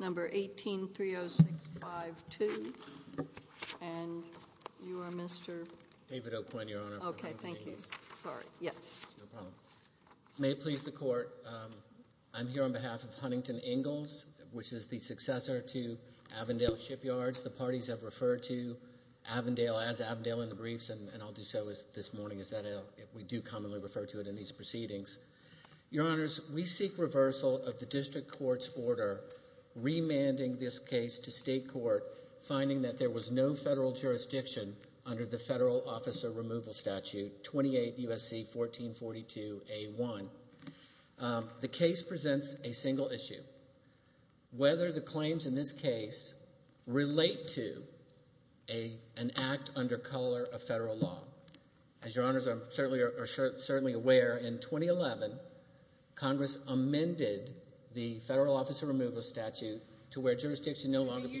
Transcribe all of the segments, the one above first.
Number 1830652, and you are Mr. David O'Quinn, your honor. Okay, thank you, sorry. Yes. No problem. May it please the court, I'm here on behalf of Huntington Ingalls, which is the successor to Avondale Shipyards. The parties have referred to Avondale as Avondale in the briefs, and I'll do so this morning, as we do commonly refer to it in these proceedings. Your honors, we seek reversal of the district court's order remanding this case to state court, finding that there was no federal jurisdiction under the Federal Officer Removal Statute 28 U.S.C. 1442A1. The case presents a single issue, whether the claims in this case relate to an act under color of federal law. As your honors are certainly aware, in 2011, Congress amended the Federal Officer Removal Statute to where jurisdiction no longer be... This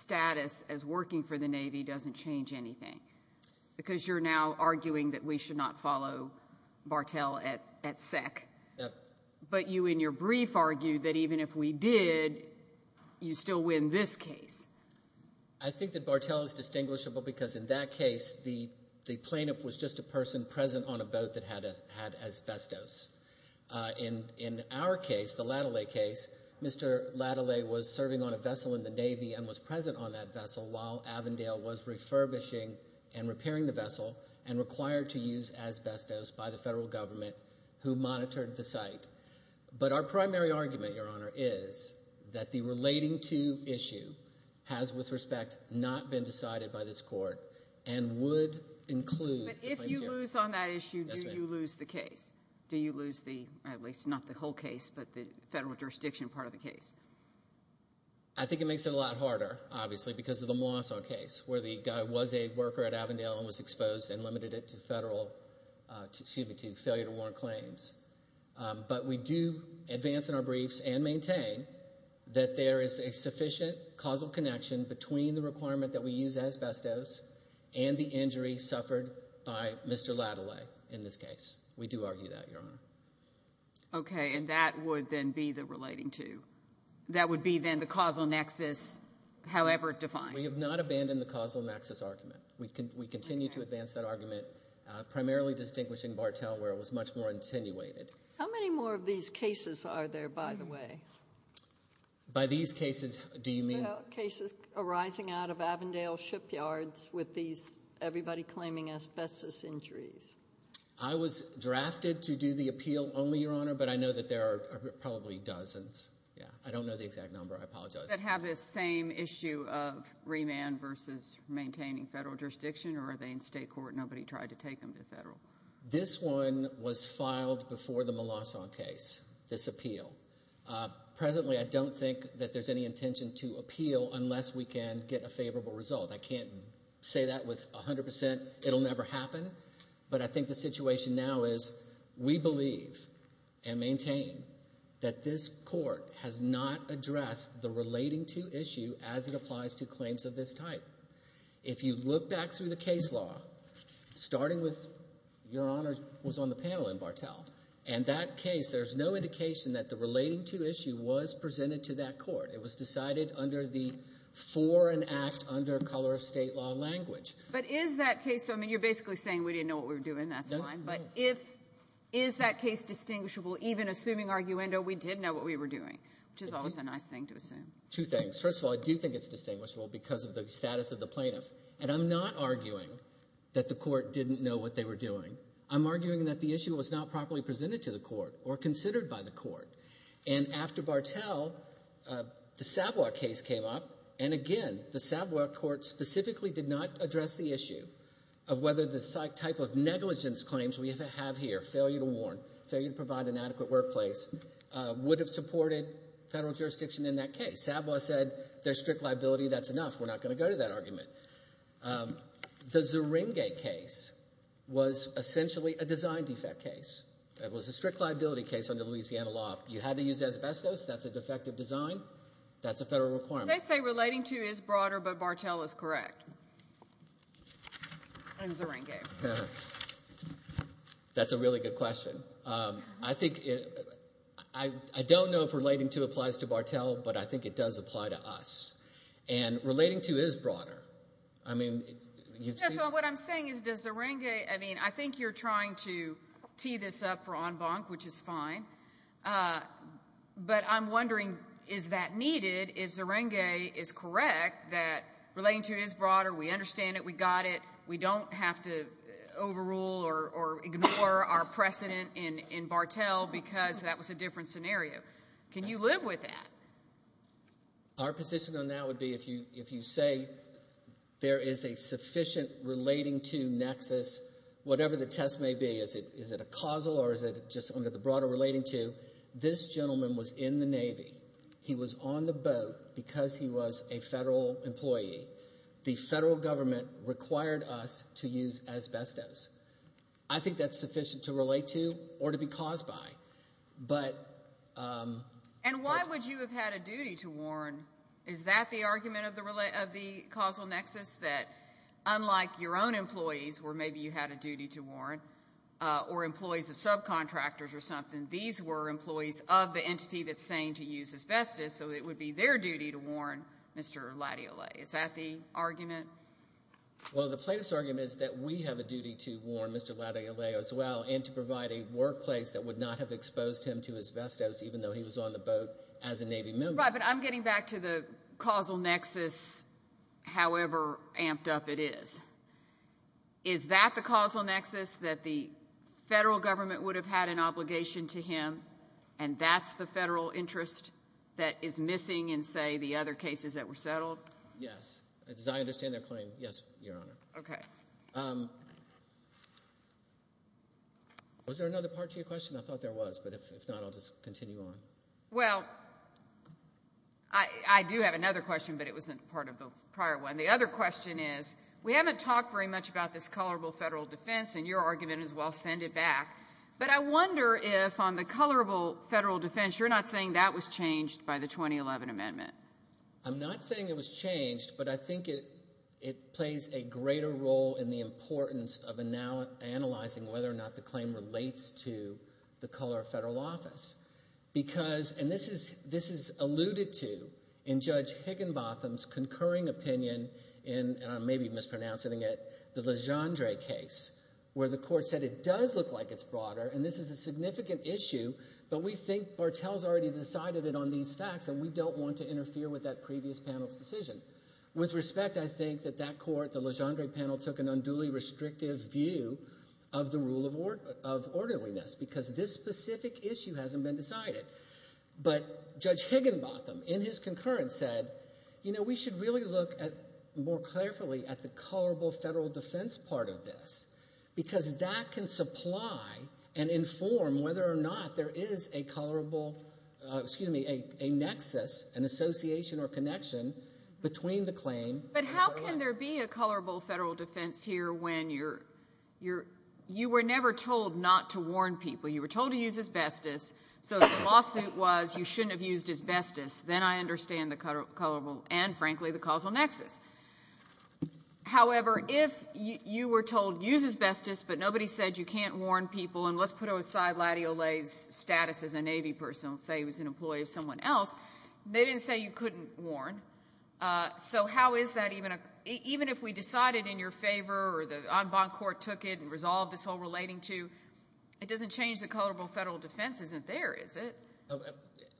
status as working for the Navy doesn't change anything, because you're now arguing that we should not follow Bartell at SEC. Yep. But you in your brief argued that even if we did, you'd still win this case. I think that Bartell is distinguishable, because in that case, the plaintiff was just a person present on a boat that had asbestos. In our case, the Lattale case, Mr. Lattale was serving on a vessel in the Navy and was present on that vessel while Avondale was refurbishing and repairing the vessel and required to use asbestos by the federal government who monitored the site. But our primary argument, your honor, is that the relating to issue has, with respect, not been decided by this court and would include... But if you lose on that issue... Yes, ma'am.... do you lose the case? Do you lose the, at least not the whole case, but the federal jurisdiction part of the case? I think it makes it a lot harder, obviously, because of the Mawson case, where the guy was a worker at Avondale and was exposed and limited it to failure to warrant claims. But we do advance in our briefs and maintain that there is a sufficient causal connection between the requirement that we use asbestos and the injury suffered by Mr. Lattale in this case. We do argue that, your honor. Okay, and that would then be the relating to. That would be then the causal nexus, however it defines. We have not abandoned the causal nexus argument. We continue to advance that argument, primarily distinguishing Bartel, where it was much more attenuated. How many more of these cases are there, by the way? By these cases, do you mean... Cases arising out of Avondale shipyards with these, everybody claiming asbestos injuries. I was drafted to do the appeal only, your honor, but I know that there are probably dozens. I don't know the exact number. I apologize. That have this same issue of remand versus maintaining federal jurisdiction, or are they in state court and nobody tried to take them to federal? This one was filed before the Mawson case, this appeal. Presently, I don't think that there's any intention to appeal unless we can get a favorable result. I can't say that with 100%. It will never happen. But I think the situation now is we believe and maintain that this court has not addressed the relating to issue as it applies to claims of this type. If you look back through the case law, starting with—your honor was on the panel in Bartel. In that case, there's no indication that the relating to issue was presented to that court. It was decided under the Foreign Act under color of state law language. But is that case—I mean, you're basically saying we didn't know what we were doing. That's fine. But if—is that case distinguishable even assuming arguendo we did know what we were doing, which is always a nice thing to assume? Two things. First of all, I do think it's distinguishable because of the status of the plaintiff. And I'm not arguing that the court didn't know what they were doing. I'm arguing that the issue was not properly presented to the court or considered by the court. And after Bartel, the Savoy case came up, and again, the Savoy court specifically did not address the issue of whether the type of negligence claims we have here, failure to warn, failure to provide an adequate workplace, would have supported federal jurisdiction in that case. Savoy said there's strict liability. That's enough. We're not going to go to that argument. The Zeringue case was essentially a design defect case. It was a strict liability case under Louisiana law. You had to use asbestos. That's a defective design. That's a federal requirement. They say relating to is broader, but Bartel is correct. On Zeringue. That's a really good question. I think it—I don't know if relating to applies to Bartel, but I think it does apply to us. And relating to is broader. I mean, you've seen— So what I'm saying is does Zeringue—I mean, I think you're trying to tee this up for en banc, which is fine, but I'm wondering is that needed if Zeringue is correct that relating to is broader, we understand it, we got it, we don't have to overrule or ignore our precedent in Bartel because that was a different scenario. Can you live with that? Our position on that would be if you say there is a sufficient relating to nexus, whatever the test may be, is it a causal or is it just under the broader relating to, this gentleman was in the Navy. He was on the boat because he was a federal employee. The federal government required us to use asbestos. I think that's sufficient to relate to or to be caused by, but— And why would you have had a duty to warn? Is that the argument of the causal nexus, that unlike your own employees where maybe you had a duty to warn or employees of subcontractors or something, these were employees of the entity that's saying to use asbestos, so it would be their duty to warn Mr. Latiole. Is that the argument? Well, the plaintiff's argument is that we have a duty to warn Mr. Latiole as well and to provide a workplace that would not have exposed him to asbestos even though he was on the boat as a Navy member. Right, but I'm getting back to the causal nexus, however amped up it is. Is that the causal nexus, that the federal government would have had an obligation to him, and that's the federal interest that is missing in, say, the other cases that were settled? Yes. As I understand their claim, yes, Your Honor. Okay. Was there another part to your question? I thought there was, but if not, I'll just continue on. Well, I do have another question, but it wasn't part of the prior one. The other question is we haven't talked very much about this colorable federal defense, and your argument is we'll send it back, but I wonder if on the colorable federal defense, you're not saying that was changed by the 2011 amendment. I'm not saying it was changed, but I think it plays a greater role in the importance of analyzing whether or not the claim relates to the color of federal office because, and this is alluded to in Judge Higginbotham's concurring opinion in, and I may be mispronouncing it, the Legendre case, where the court said it does look like it's broader and this is a significant issue, but we think Bartel's already decided it on these facts and we don't want to interfere with that previous panel's decision. With respect, I think that that court, the Legendre panel, took an unduly restrictive view of the rule of orderliness because this specific issue hasn't been decided. But Judge Higginbotham in his concurrence said, you know, we should really look more carefully at the colorable federal defense part of this because that can supply and inform whether or not there is a colorable, excuse me, a nexus, an association or connection between the claim. But how can there be a colorable federal defense here when you're, you were never told not to warn people. You were told to use asbestos, so the lawsuit was you shouldn't have used asbestos. Then I understand the colorable and, frankly, the causal nexus. However, if you were told use asbestos but nobody said you can't warn people and let's put aside Latty Olay's status as a Navy person and say he was an employee of someone else, they didn't say you couldn't warn. So how is that even a, even if we decided in your favor or the en banc court took it and resolved this whole relating to, it doesn't change the colorable federal defense isn't there, is it?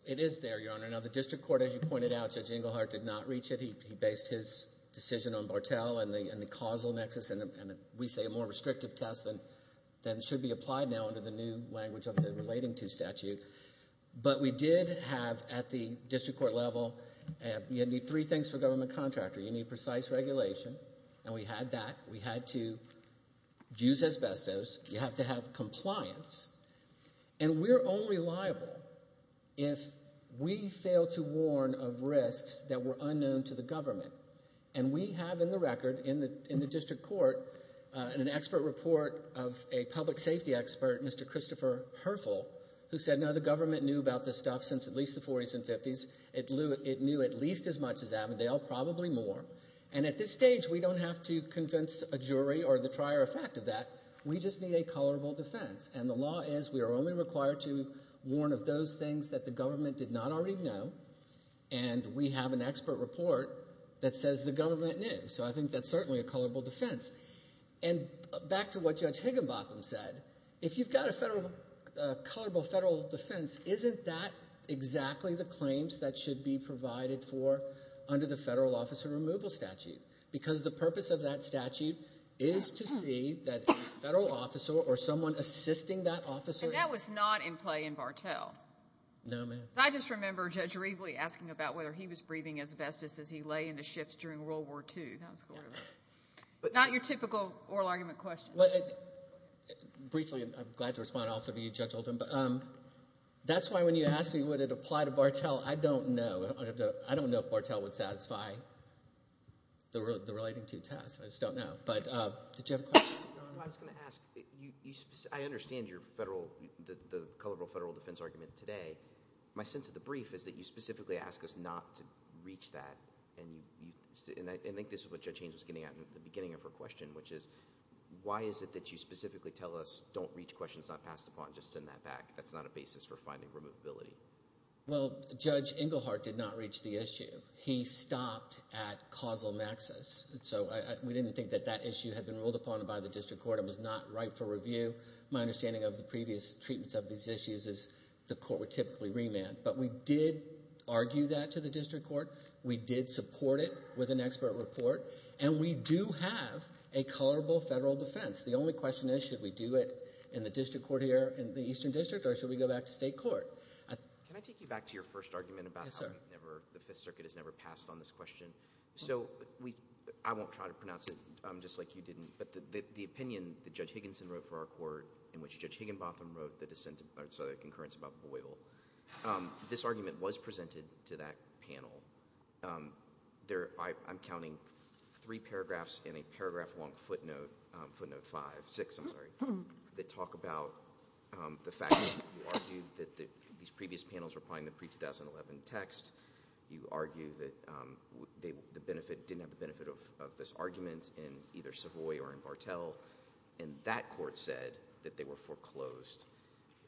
It is there, Your Honor. Now the district court, as you pointed out, Judge Engelhardt did not reach it. He based his decision on Bartel and the causal nexus and we say a more restrictive test than should be applied now under the new language of the relating to statute. But we did have at the district court level, you need three things for a government contractor. You need precise regulation, and we had that. We had to use asbestos. You have to have compliance. And we're only liable if we fail to warn of risks that were unknown to the government. And we have in the record in the district court an expert report of a public safety expert, Mr. Christopher Herfel, who said now the government knew about this stuff since at least the 40s and 50s. It knew at least as much as Avondale, probably more. And at this stage we don't have to convince a jury or the trier of fact of that. We just need a colorable defense. And the law is we are only required to warn of those things that the government did not already know, and we have an expert report that says the government knew. So I think that's certainly a colorable defense. And back to what Judge Higginbotham said, if you've got a colorable federal defense, isn't that exactly the claims that should be provided for under the federal officer removal statute? Because the purpose of that statute is to see that a federal officer or someone assisting that officer... And that was not in play in Bartel. No, ma'am. I just remember Judge Riegel asking about whether he was breathing asbestos as he lay in the ships during World War II. Not your typical oral argument question. Briefly, I'm glad to respond also to you, Judge Higginbotham, but that's why when you asked me would it apply to Bartel, I don't know. I don't know if Bartel would satisfy the relating to test. I just don't know. But did you have a question? I was going to ask, I understand your federal, the colorable federal defense argument today. My sense of the brief is that you specifically ask us not to reach that. And I think this is what Judge Haynes was getting at at the beginning of her question, which is, why is it that you specifically tell us don't reach questions not passed upon, just send that back? That's not a basis for finding removability. Well, Judge Engelhardt did not reach the issue. He stopped at causal nexus. So we didn't think that that issue had been ruled upon by the district court. It was not right for review. My understanding of the previous treatments of these issues is the court would typically remand. But we did argue that to the district court. We did support it with an expert report. And we do have a colorable federal defense. The only question is, should we do it in the district court here, in the Eastern District, or should we go back to state court? Can I take you back to your first argument about how the Fifth Circuit has never passed on this question? So I won't try to pronounce it just like you didn't. But the opinion that Judge Higginson wrote for our court, in which Judge Higginbotham wrote the concurrence about Boyle, this argument was presented to that panel. I'm counting three paragraphs in a paragraph-long footnote, footnote five, six, I'm sorry, that talk about the fact that you argued that these previous panels were applying the pre-2011 text. You argue that the benefit didn't have the benefit of this argument in either Savoy or in Bartel. And that court said that they were foreclosed.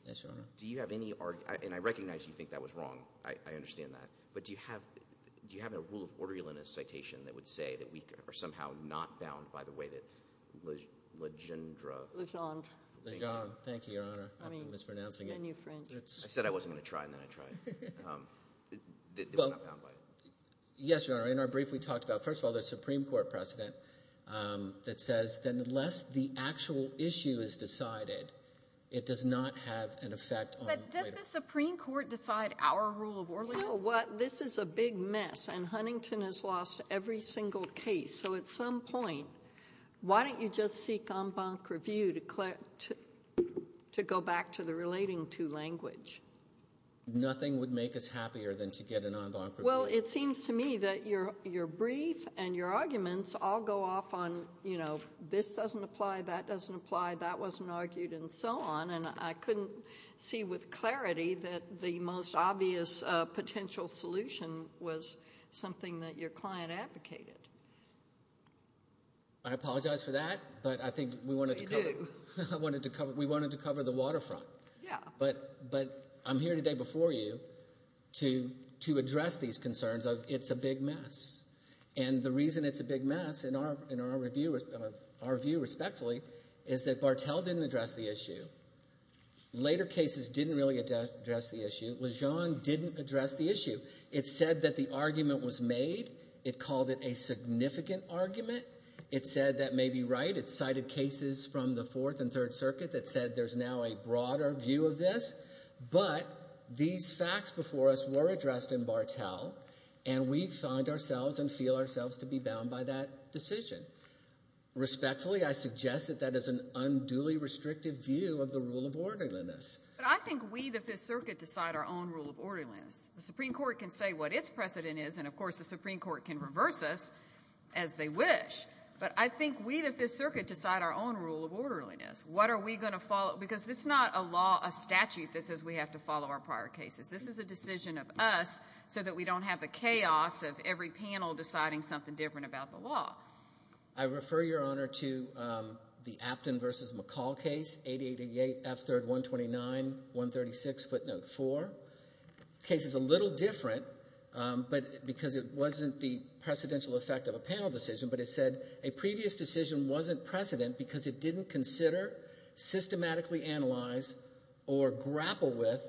Yes, Your Honor. Do you have any, and I recognize you think that was wrong. I understand that. But do you have a rule of order in a citation that would say that we are somehow not bound by the way that Legendre. Legendre. Legendre. Thank you, Your Honor. I'm mispronouncing it. I said I wasn't going to try, and then I tried. We're not bound by it. Yes, Your Honor. In our brief, we talked about, first of all, the Supreme Court precedent that says that unless the actual issue is decided, it does not have an effect on later. But does the Supreme Court decide our rule of order? You know what? This is a big mess, and Huntington has lost every single case. So at some point, why don't you just seek en banc review to go back to the relating to language? Nothing would make us happier than to get an en banc review. Well, it seems to me that your brief and your arguments all go off on, you know, this doesn't apply, that doesn't apply, that wasn't argued, and so on. And I couldn't see with clarity that the most obvious potential solution was something that your client advocated. I apologize for that, but I think we wanted to cover the waterfront. Yeah. But I'm here today before you to address these concerns of it's a big mess. And the reason it's a big mess, in our view respectfully, is that Bartel didn't address the issue. Later cases didn't really address the issue. Lejeune didn't address the issue. It said that the argument was made. It called it a significant argument. It said that may be right. It cited cases from the Fourth and Third Circuit that said there's now a broader view of this. But these facts before us were addressed in Bartel, and we find ourselves and feel ourselves to be bound by that decision. Respectfully, I suggest that that is an unduly restrictive view of the rule of orderliness. But I think we, the Fifth Circuit, decide our own rule of orderliness. The Supreme Court can say what its precedent is, and, of course, the Supreme Court can reverse us as they wish. But I think we, the Fifth Circuit, decide our own rule of orderliness. What are we going to follow? Because it's not a law, a statute, that says we have to follow our prior cases. This is a decision of us so that we don't have the chaos of every panel deciding something different about the law. I refer, Your Honor, to the Apton v. McCall case, 888-F3-129-136, footnote 4. The case is a little different because it wasn't the precedential effect of a panel decision, but it said a previous decision wasn't precedent because it didn't consider, systematically analyze, or grapple with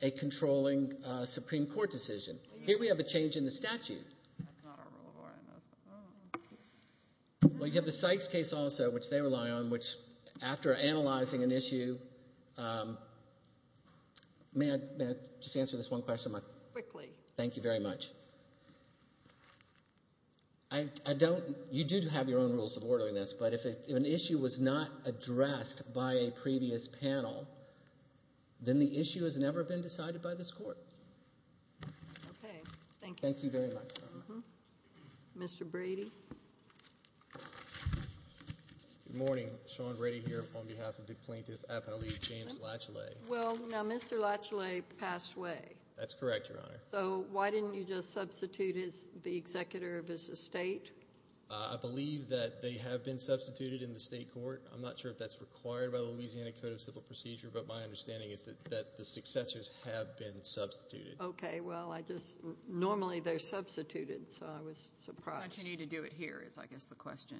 a controlling Supreme Court decision. Here we have a change in the statute. We have the Sykes case also, which they rely on, which after analyzing an issue – may I just answer this one question? Quickly. Thank you very much. You do have your own rules of orderliness, but if an issue was not addressed by a previous panel, then the issue has never been decided by this Court. Okay, thank you. Thank you very much, Your Honor. Mr. Brady? Good morning. Sean Brady here on behalf of the plaintiff, Apton v. James Latchley. Well, now Mr. Latchley passed away. That's correct, Your Honor. So why didn't you just substitute the executor of his estate? I believe that they have been substituted in the state court. I'm not sure if that's required by the Louisiana Code of Civil Procedure, but my understanding is that the successors have been substituted. Okay, well, normally they're substituted, so I was surprised. How much you need to do it here is, I guess, the question.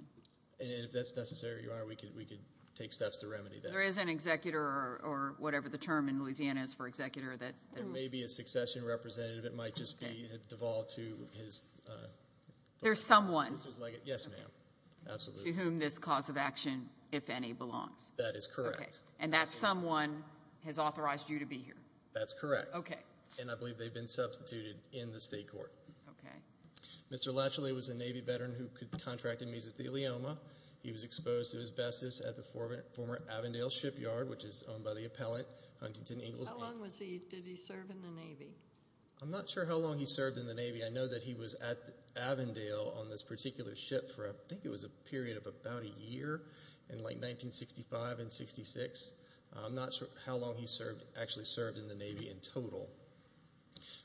And if that's necessary, Your Honor, we could take steps to remedy that. There is an executor, or whatever the term in Louisiana is for executor, that may be a succession representative. It might just be devolved to his daughter. There's someone. Yes, ma'am, absolutely. To whom this cause of action, if any, belongs. That is correct. And that someone has authorized you to be here. That's correct. Okay. And I believe they've been substituted in the state court. Okay. Mr. Latchley was a Navy veteran who contracted mesothelioma. He was exposed to asbestos at the former Avondale Shipyard, which is owned by the appellant Huntington Ingalls. How long did he serve in the Navy? I'm not sure how long he served in the Navy. I know that he was at Avondale on this particular ship for, I think it was a period of about a year, in like 1965 and 1966. I'm not sure how long he actually served in the Navy in total.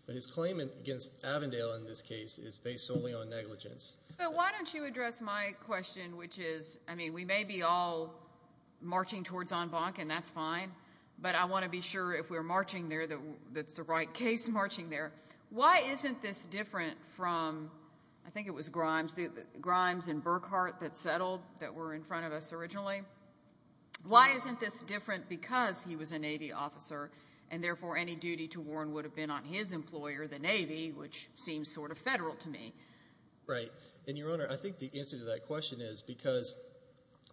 But his claim against Avondale in this case is based solely on negligence. But why don't you address my question, which is, I mean, we may be all marching towards en banc, and that's fine, but I want to be sure if we're marching there that it's the right case marching there. Why isn't this different from, I think it was Grimes and Burkhart that settled, that were in front of us originally? Why isn't this different because he was a Navy officer and therefore any duty to warn would have been on his employer, the Navy, which seems sort of federal to me? Right. And, Your Honor, I think the answer to that question is because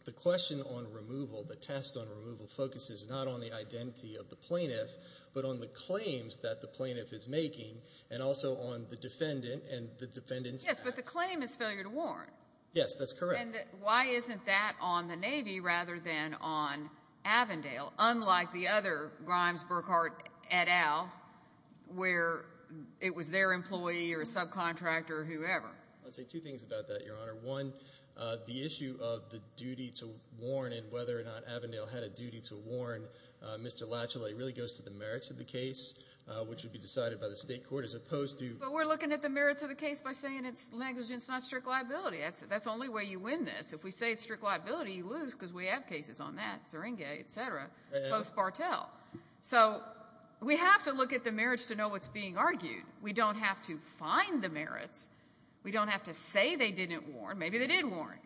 the question on removal, the test on removal focuses not on the identity of the plaintiff but on the claims that the plaintiff is making and also on the defendant and the defendant's actions. Yes, but the claim is failure to warn. Yes, that's correct. And why isn't that on the Navy rather than on Avondale, unlike the other Grimes, Burkhart, et al., where it was their employee or subcontractor or whoever? I'll say two things about that, Your Honor. One, the issue of the duty to warn and whether or not Avondale had a duty to warn Mr. Latchley really goes to the merits of the case, which would be decided by the state court as opposed to But we're looking at the merits of the case by saying it's negligence, not strict liability. That's the only way you win this. If we say it's strict liability, you lose because we have cases on that, Syringa, et cetera, post-Bartel. So we have to look at the merits to know what's being argued. We don't have to find the merits. We don't have to say they didn't warn. Maybe they did warn.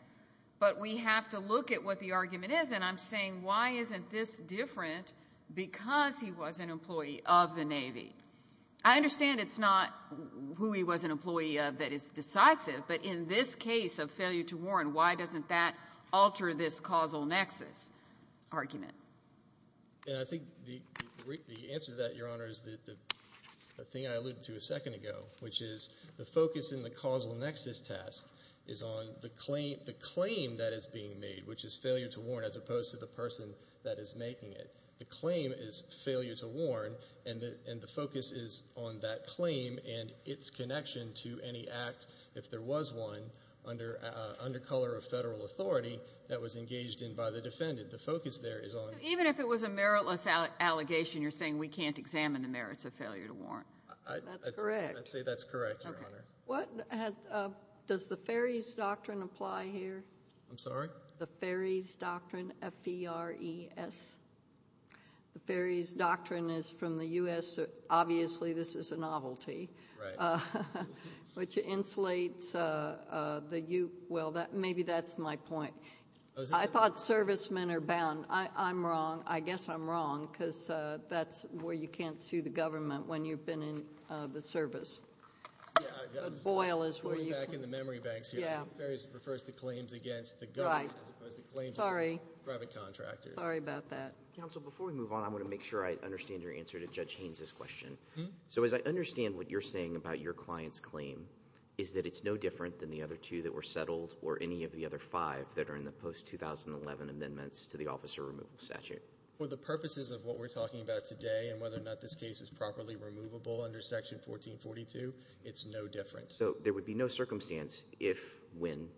But we have to look at what the argument is, and I'm saying why isn't this different because he was an employee of the Navy? I understand it's not who he was an employee of that is decisive, but in this case of failure to warn, why doesn't that alter this causal nexus argument? And I think the answer to that, Your Honor, is the thing I alluded to a second ago, which is the focus in the causal nexus test is on the claim that is being made, which is failure to warn as opposed to the person that is making it. The claim is failure to warn, and the focus is on that claim and its connection to any act, if there was one, under color of federal authority that was engaged in by the defendant. The focus there is on the claim. So even if it was a meritless allegation, you're saying we can't examine the merits of failure to warn. That's correct. I'd say that's correct, Your Honor. Does the Ferry's Doctrine apply here? I'm sorry? The Ferry's Doctrine, F-E-R-E-S. The Ferry's Doctrine is from the U.S. Obviously this is a novelty. Right. Which insulates the U. Well, maybe that's my point. I thought servicemen are bound. I'm wrong. I guess I'm wrong because that's where you can't sue the government when you've been in the service. Boyle is where you can. Going back in the memory banks here, the Ferry's refers to claims against the government as opposed to claims against private contractors. Sorry about that. Counsel, before we move on, I want to make sure I understand your answer to Judge Haynes' question. So as I understand what you're saying about your client's claim, is that it's no different than the other two that were settled or any of the other five that are in the post-2011 amendments to the officer removal statute? For the purposes of what we're talking about today and whether or not this case is properly removable under Section 1442, it's no different. So there would be no circumstance if, when,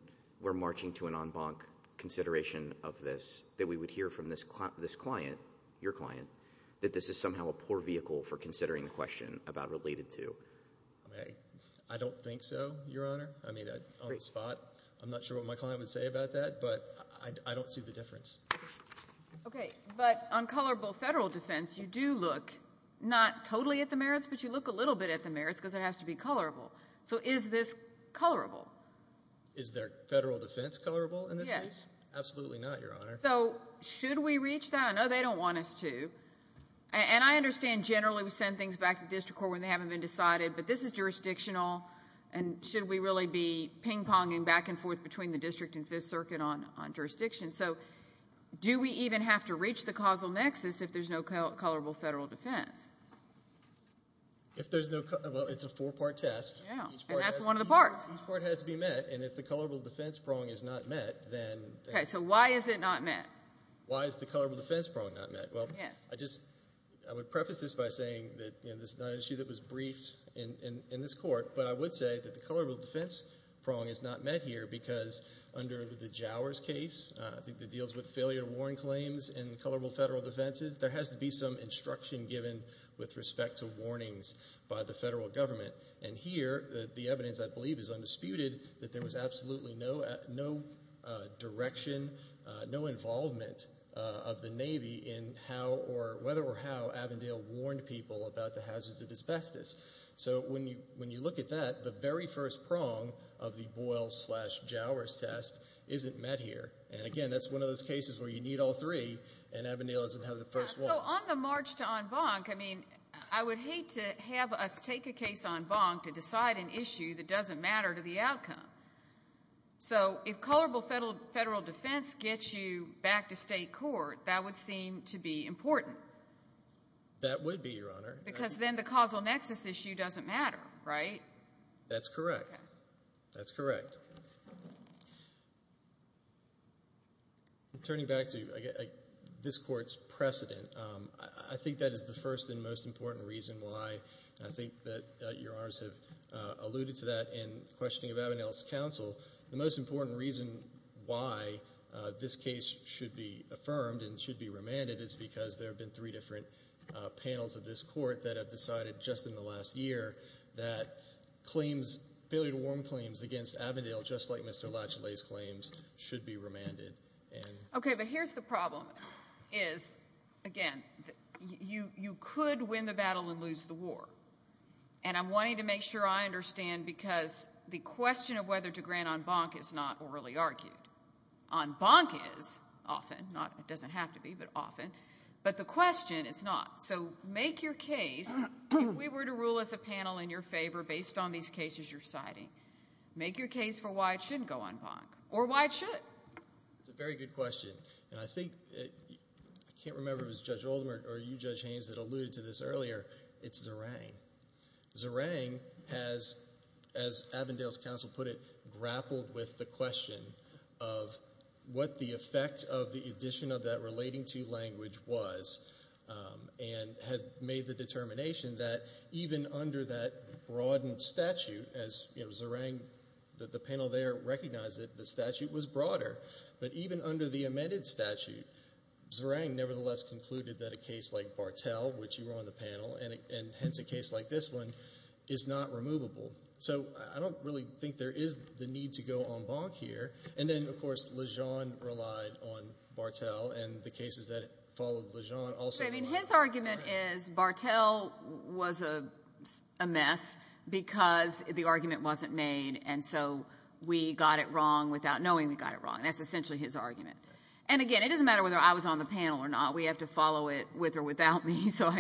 we're marching to an en banc consideration of this that we would hear from this client, your client, that this is somehow a poor vehicle for considering the question about related to. I don't think so, Your Honor. I mean, on the spot. I'm not sure what my client would say about that, but I don't see the difference. Okay. But on colorable federal defense, you do look not totally at the merits, but you look a little bit at the merits because it has to be colorable. So is this colorable? Is their federal defense colorable in this case? Yes. Absolutely not, Your Honor. So should we reach that? I know they don't want us to. And I understand generally we send things back to the district court when they haven't been decided, but this is jurisdictional and should we really be ping-ponging back and forth between the district and Fifth Circuit on jurisdiction? So do we even have to reach the causal nexus if there's no colorable federal defense? Well, it's a four-part test. And that's one of the parts. Each part has to be met, and if the colorable defense prong is not met, then... Okay. So why is it not met? Why is the colorable defense prong not met? Well, I would preface this by saying that this is not an issue that was briefed in this court, but I would say that the colorable defense prong is not met here because under the Jowers case, I think that deals with failure to warn claims in colorable federal defenses, there has to be some instruction given with respect to warnings by the federal government. And here, the evidence, I believe, is undisputed that there was absolutely no direction, no involvement of the Navy in whether or how Avondale warned people about the hazards of asbestos. So when you look at that, the very first prong of the Boyle-slash-Jowers test isn't met here. And again, that's one of those cases where you need all three, and Avondale doesn't have the first one. So on the march to en banc, I mean, I would hate to have us take a case en banc to decide an issue that doesn't matter to the outcome. So if colorable federal defense gets you back to state court, that would seem to be important. That would be, Your Honor. Because then the causal nexus issue doesn't matter, right? That's correct. That's correct. Turning back to this court's precedent, I think that is the first and most important reason why I think that Your Honors have alluded to that in questioning of Avondale's counsel. The most important reason why this case should be affirmed and should be remanded is because there have been three different panels of this court that have decided just in the last year that claims, failure-to-warm claims against Avondale, just like Mr. Latchley's claims, should be remanded. Okay, but here's the problem, is, again, you could win the battle and lose the war. And I'm wanting to make sure I understand because the question of whether to grant en banc is not orally argued. En banc is often. It doesn't have to be, but often. But the question is not. So make your case. If we were to rule as a panel in your favor based on these cases you're citing, make your case for why it shouldn't go en banc, or why it should. That's a very good question. And I think... I can't remember if it was Judge Oldham or you, Judge Haynes, that alluded to this earlier. It's Zerang. Zerang has, as Avondale's counsel put it, grappled with the question of what the effect of the addition of that relating to language was and had made the determination that even under that broadened statute, as Zerang, the panel there, recognized it, the statute was broader. But even under the amended statute, Zerang nevertheless concluded that a case like Bartel, which you were on the panel, and hence a case like this one, is not removable. So I don't really think there is the need to go en banc here. And then, of course, Lejean relied on Bartel, and the cases that followed Lejean also relied on Bartel. His argument is Bartel was a mess because the argument wasn't made, and so we got it wrong without knowing we got it wrong. That's essentially his argument. And again, it doesn't matter whether I was on the panel or not. We have to follow it with or without me, so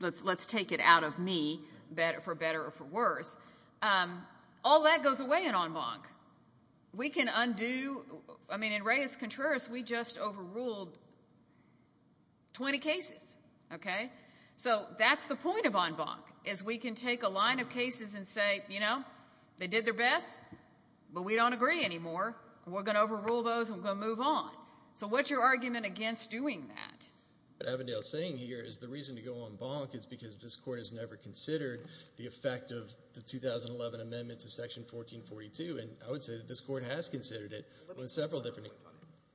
let's take it out of me, for better or for worse. All that goes away in en banc. We can undo... I mean, in Reyes-Contreras, we just overruled 20 cases. Okay? So that's the point of en banc, is we can take a line of cases and say, you know, they did their best, but we don't agree anymore, and we're going to overrule those and we're going to move on. So what's your argument against doing that? What Avondale's saying here is the reason to go en banc is because this Court has never considered the effect of the 2011 amendment to Section 1442, and I would say that this Court has considered it in several different...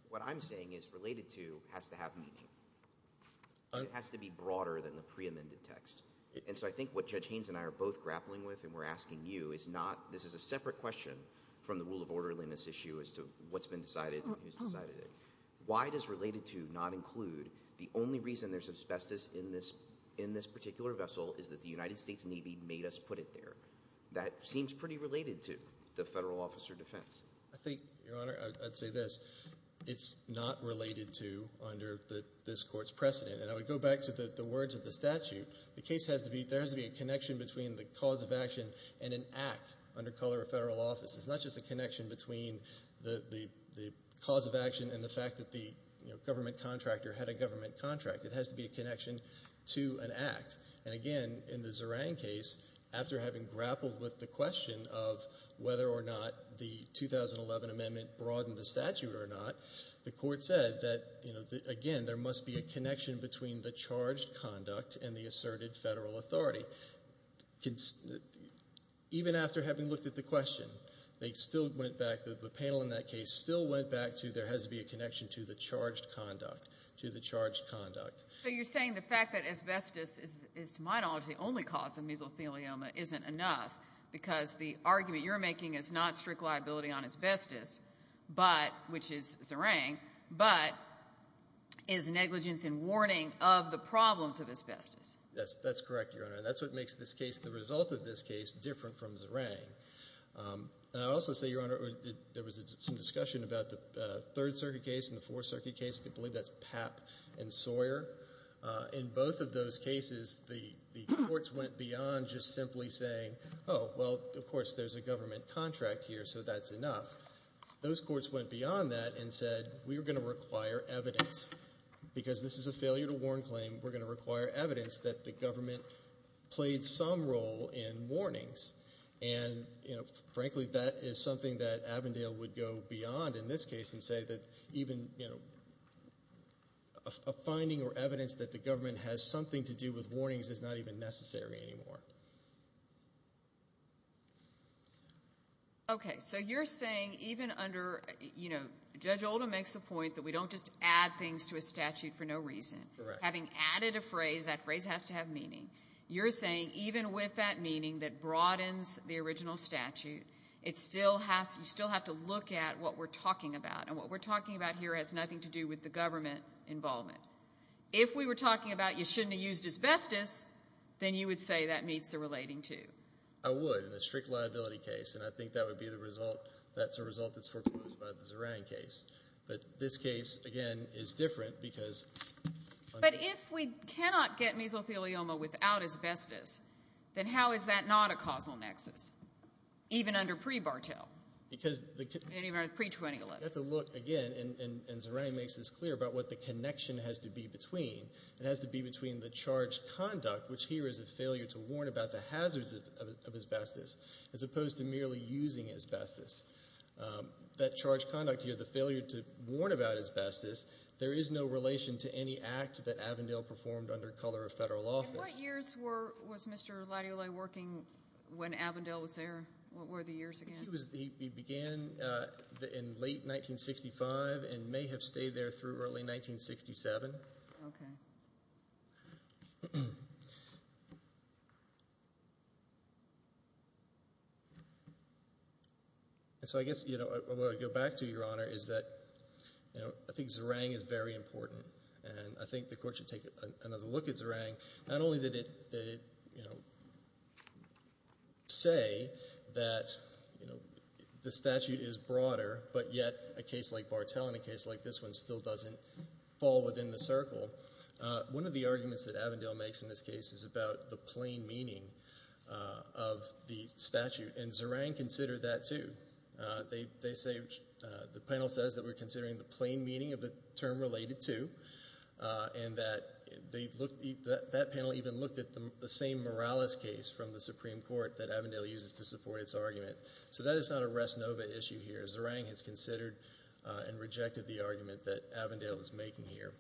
What I'm saying is related to has to have meaning. It has to be broader than the preamended text. And so I think what Judge Haynes and I are both grappling with and we're asking you is not... This is a separate question from the rule of orderliness issue as to what's been decided and who's decided it. Why does related to not include the only reason there's asbestos in this particular vessel is that the United States Navy made us put it there? That seems pretty related to the federal officer defense. I think, Your Honor, I'd say this. It's not related to under this Court's precedent. And I would go back to the words of the statute. The case has to be... There has to be a connection between the cause of action and an act under color of federal office. It's not just a connection between the cause of action and the fact that the government contractor had a government contract. It has to be a connection to an act. And again, in the Zoran case, after having grappled with the question of whether or not the 2011 amendment broadened the statute or not, the Court said that, again, there must be a connection between the charged conduct and the asserted federal authority. Even after having looked at the question, they still went back... The panel in that case still went back to there has to be a connection to the charged conduct. To the charged conduct. So you're saying the fact that asbestos is, to my knowledge, the only cause of mesothelioma isn't enough because the argument you're making is not strict liability on asbestos, which is Zoran, but is negligence and warning of the problems of asbestos. That's correct, Your Honor. And that's what makes the result of this case different from Zoran. And I'll also say, Your Honor, there was some discussion about the Third Circuit case and the Fourth Circuit case. They believe that's Papp and Sawyer. In both of those cases, the courts went beyond just simply saying, oh, well, of course, there's a government contract here, so that's enough. Those courts went beyond that and said, we're going to require evidence. Because this is a failure to warn claim, we're going to require evidence that the government played some role in warnings. And frankly, that is something that Avondale would go beyond in this case and say that even a finding or evidence that the government has something to do with warnings is not even necessary anymore. Okay. So you're saying even under, you know, Judge Oldham makes the point that we don't just add things to a statute for no reason. Correct. Having added a phrase, that phrase has to have meaning. You're saying even with that meaning that broadens the original statute, you still have to look at what we're talking about. And what we're talking about here has nothing to do with the government involvement. If we were talking about you shouldn't have used asbestos, then you would say that meets the relating to. I would, in a strict liability case. And I think that would be the result, that's a result that's foreclosed by the Zarang case. But this case, again, is different because... But if we cannot get mesothelioma without asbestos, then how is that not a causal nexus? Even under pre-Bartel. Even under pre-2011. You have to look again, and Zarang makes this clear, about what the connection has to be between. It has to be between the charged conduct, which here is a failure to warn about the hazards of asbestos, as opposed to merely using asbestos. That charged conduct here, the failure to warn about asbestos, there is no relation to any act that Avondale performed under color of federal office. In what years was Mr. Latula working when Avondale was there? What were the years again? He began in late 1965 and may have stayed there through early 1967. Okay. So I guess what I would go back to, Your Honor, is that I think Zarang is very important, and I think the Court should take another look at Zarang. Not only did it say that the statute is broader, but yet a case like Bartel and a case like this one doesn't fall within the circle. One of the arguments that Avondale makes in this case is about the plain meaning of the statute, and Zarang considered that too. The panel says that we're considering the plain meaning of the term related to, and that panel even looked at the same Morales case from the Supreme Court that Avondale uses to support its argument. So that is not a res nova issue here. Zarang has considered and rejected the argument that Avondale is making here.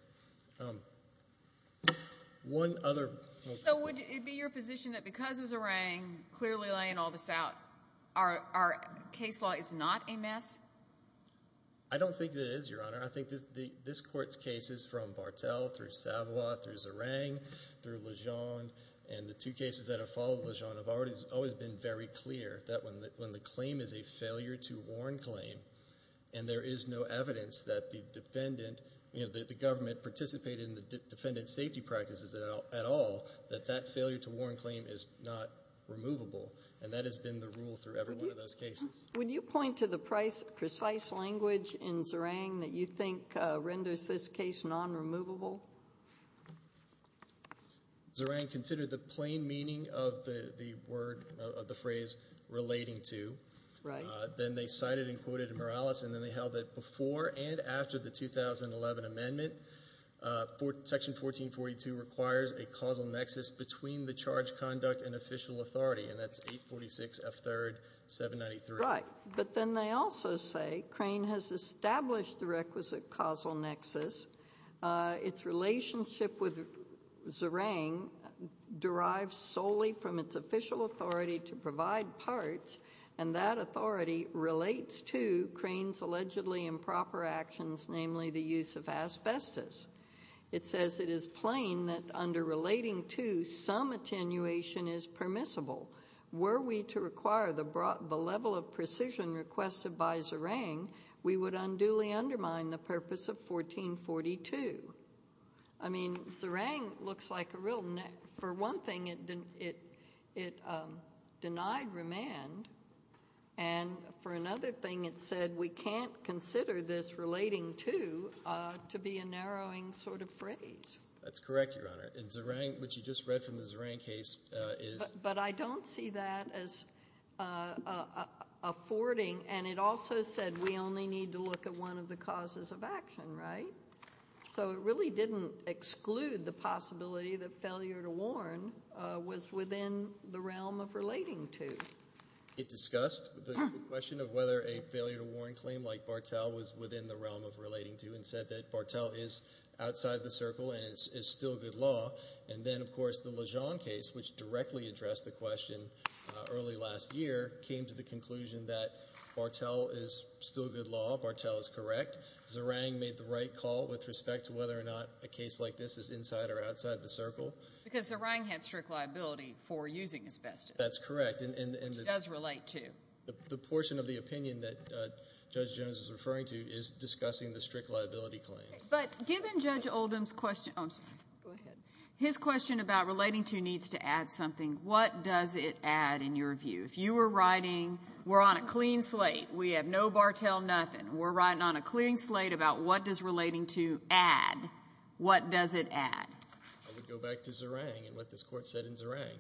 One other point. So would it be your position that because of Zarang clearly laying all this out, our case law is not a mess? I don't think that it is, Your Honor. I think this Court's cases from Bartel through Savoy, through Zarang, through Lejean, and the two cases that have followed Lejean have always been very clear that when the claim is a failure to warn claim and there is no evidence that the defendant, you know, that the government participated in the defendant's safety practices at all, that that failure to warn claim is not removable, and that has been the rule through every one of those cases. Would you point to the precise language in Zarang that you think renders this case non-removable? Zarang considered the plain meaning of the phrase relating to. Right. Then they cited and quoted Morales, and then they held that before and after the 2011 amendment, Section 1442 requires a causal nexus between the charge conduct and official authority, and that's 846 F. 3rd, 793. Right, but then they also say Crane has established the requisite causal nexus. Its relationship with Zarang derives solely from its official authority to provide parts, and that authority relates to Crane's allegedly improper actions, namely the use of asbestos. It says it is plain that under relating to, some attenuation is permissible. Were we to require the level of precision requested by Zarang, we would unduly undermine the purpose of 1442. I mean, Zarang looks like a real... For one thing, it denied remand, and for another thing it said we can't consider this relating to to be a narrowing sort of phrase. That's correct, Your Honor. In Zarang, what you just read from the Zarang case is... But I don't see that as affording, and it also said we only need to look at one of the causes of action, right? So it really didn't exclude the possibility that failure to warn was within the realm of relating to. It discussed the question of whether a failure to warn claim like Barthel was within the realm of relating to and said that Barthel is outside the circle and is still good law. And then, of course, the Lejean case, which directly addressed the question early last year, came to the conclusion that Barthel is still good law, Barthel is correct. Zarang made the right call with respect to whether or not a case like this is inside or outside the circle. Because Zarang had strict liability for using asbestos. That's correct. Which it does relate to. The portion of the opinion that Judge Jones was referring to is discussing the strict liability claims. But given Judge Oldham's question... Oh, I'm sorry. Go ahead. His question about relating to needs to add something. What does it add in your view? If you were writing, we're on a clean slate, we have no Barthel nothing, we're writing on a clean slate about what does relating to add, what does it add? I would go back to Zarang and what this Court said in Zarang.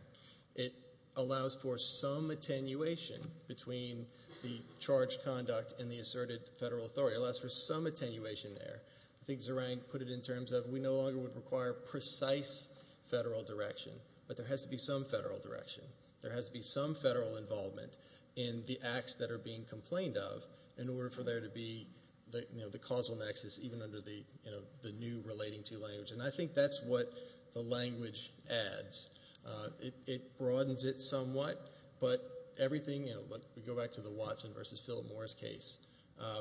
It allows for some attenuation between the charged conduct and the asserted federal authority. It allows for some attenuation there. I think Zarang put it in terms of we no longer would require precise federal direction, but there has to be some federal direction. There has to be some federal involvement in the acts that are being complained of in order for there to be the causal nexus even under the new relating to language. And I think that's what the language adds. It broadens it somewhat, but everything... We go back to the Watson v. Philip Morris case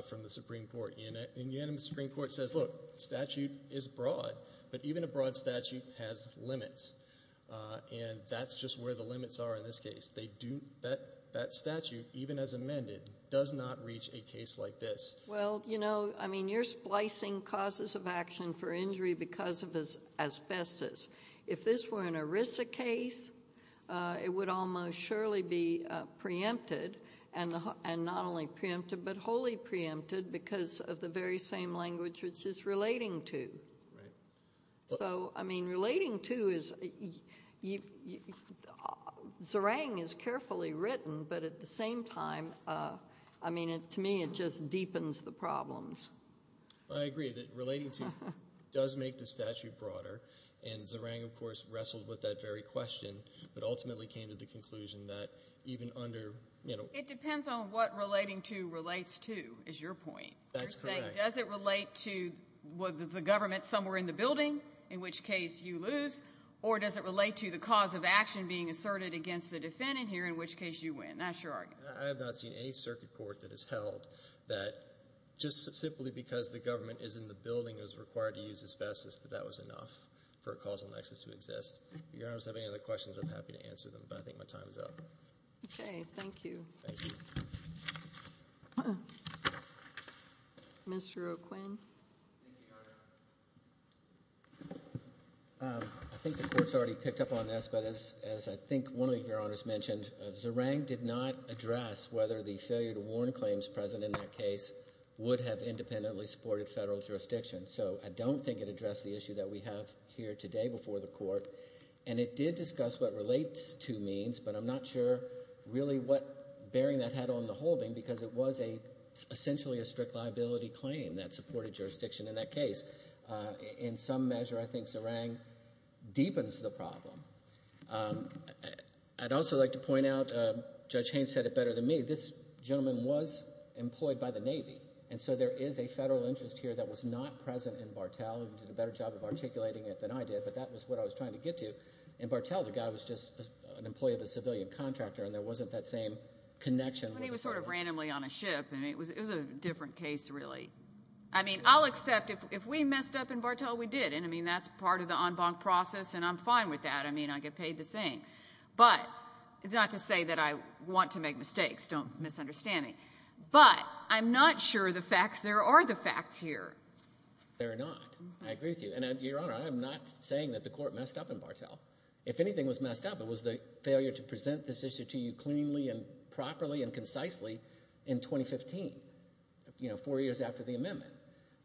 from the Supreme Court. In the end, the Supreme Court says, look, the statute is broad, but even a broad statute has limits. And that's just where the limits are in this case. That statute, even as amended, does not reach a case like this. Well, you know, I mean, you're splicing causes of action for injury because of asbestos. If this were an ERISA case, it would almost surely be preempted, and not only preempted, but wholly preempted because of the very same language which is relating to. So, I mean, relating to is... Zerang is carefully written, but at the same time, I mean, to me, it just deepens the problems. I agree that relating to does make the statute broader, and Zerang, of course, wrestled with that very question but ultimately came to the conclusion that even under... It depends on what relating to relates to, is your point. That's correct. You're saying, does it relate to, well, there's a government somewhere in the building, in which case you lose, or does it relate to the cause of action being asserted against the defendant here, in which case you win? That's your argument. I have not seen any circuit court that has held that just simply because the government is in the building and is required to use asbestos, that that was enough for a causal nexus to exist. Your Honor, if you have any other questions, I'm happy to answer them, but I think my time is up. Okay, thank you. Thank you. Mr. O'Quinn. Thank you, Your Honor. I think the Court's already picked up on this, but as I think one of Your Honors mentioned, Zerang did not address whether the failure to warn claims present in that case would have independently supported federal jurisdiction. So I don't think it addressed the issue that we have here today before the Court, and it did discuss what relates to means, but I'm not sure really what bearing that had on the holding because it was essentially a strict liability claim that supported jurisdiction in that case. In some measure, I think Zerang deepens the problem. I'd also like to point out, Judge Haynes said it better than me, this gentleman was employed by the Navy, and so there is a federal interest here that was not present in Bartel. He did a better job of articulating it than I did, but that was what I was trying to get to. In Bartel, the guy was just an employee of a civilian contractor and there wasn't that same connection. But he was sort of randomly on a ship, and it was a different case, really. I mean, I'll accept if we messed up in Bartel, we did, and, I mean, that's part of the en banc process, and I'm fine with that. I mean, I get paid the same. But not to say that I want to make mistakes. Don't misunderstand me. But I'm not sure there are the facts here. There are not. I agree with you. And, Your Honor, I am not saying that the Court messed up in Bartel. If anything was messed up, it was the failure to present this issue to you cleanly and properly and concisely in 2015, four years after the amendment.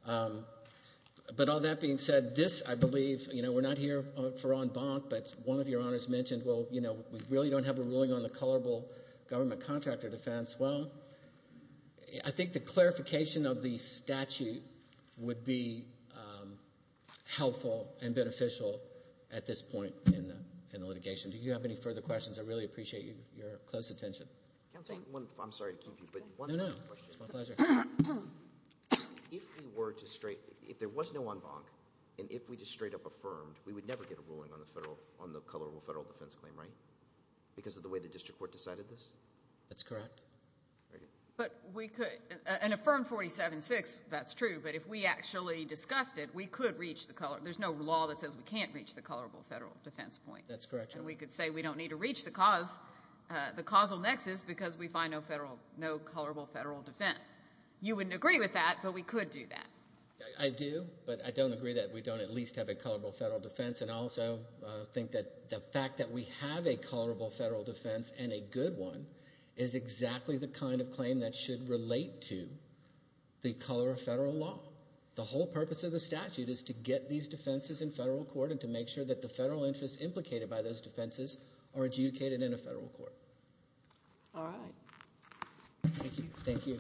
But all that being said, this, I believe, we're not here for en banc, but one of Your Honors mentioned, well, we really don't have a ruling on the colorable government contractor defense. Well, I think the clarification of the statute would be helpful and beneficial at this point in the litigation. Do you have any further questions? I really appreciate your close attention. Counsel, I'm sorry to keep you, but one other question. No, no. It's my pleasure. If we were to straight, if there was no en banc, and if we just straight up affirmed, we would never get a ruling on the federal, on the colorable federal defense claim, right? Because of the way the district court decided this? That's correct. Very good. But we could, and Affirm 47-6, that's true, but if we actually discussed it, we could reach the colorable, there's no law that says we can't reach the colorable federal defense point. That's correct, Your Honor. And we could say we don't need to reach the cause, the causal nexus, because we find no federal, no colorable federal defense. You wouldn't agree with that, but we could do that. I do, but I don't agree that we don't at least have a colorable federal defense. And I also think that the fact that we have a colorable federal defense, and a good one, is exactly the kind of claim that should relate to the color of federal law. The whole purpose of the statute is to get these defenses in federal court and to make sure that the federal interests implicated by those defenses are adjudicated in a federal court. All right. Thank you. Thank you.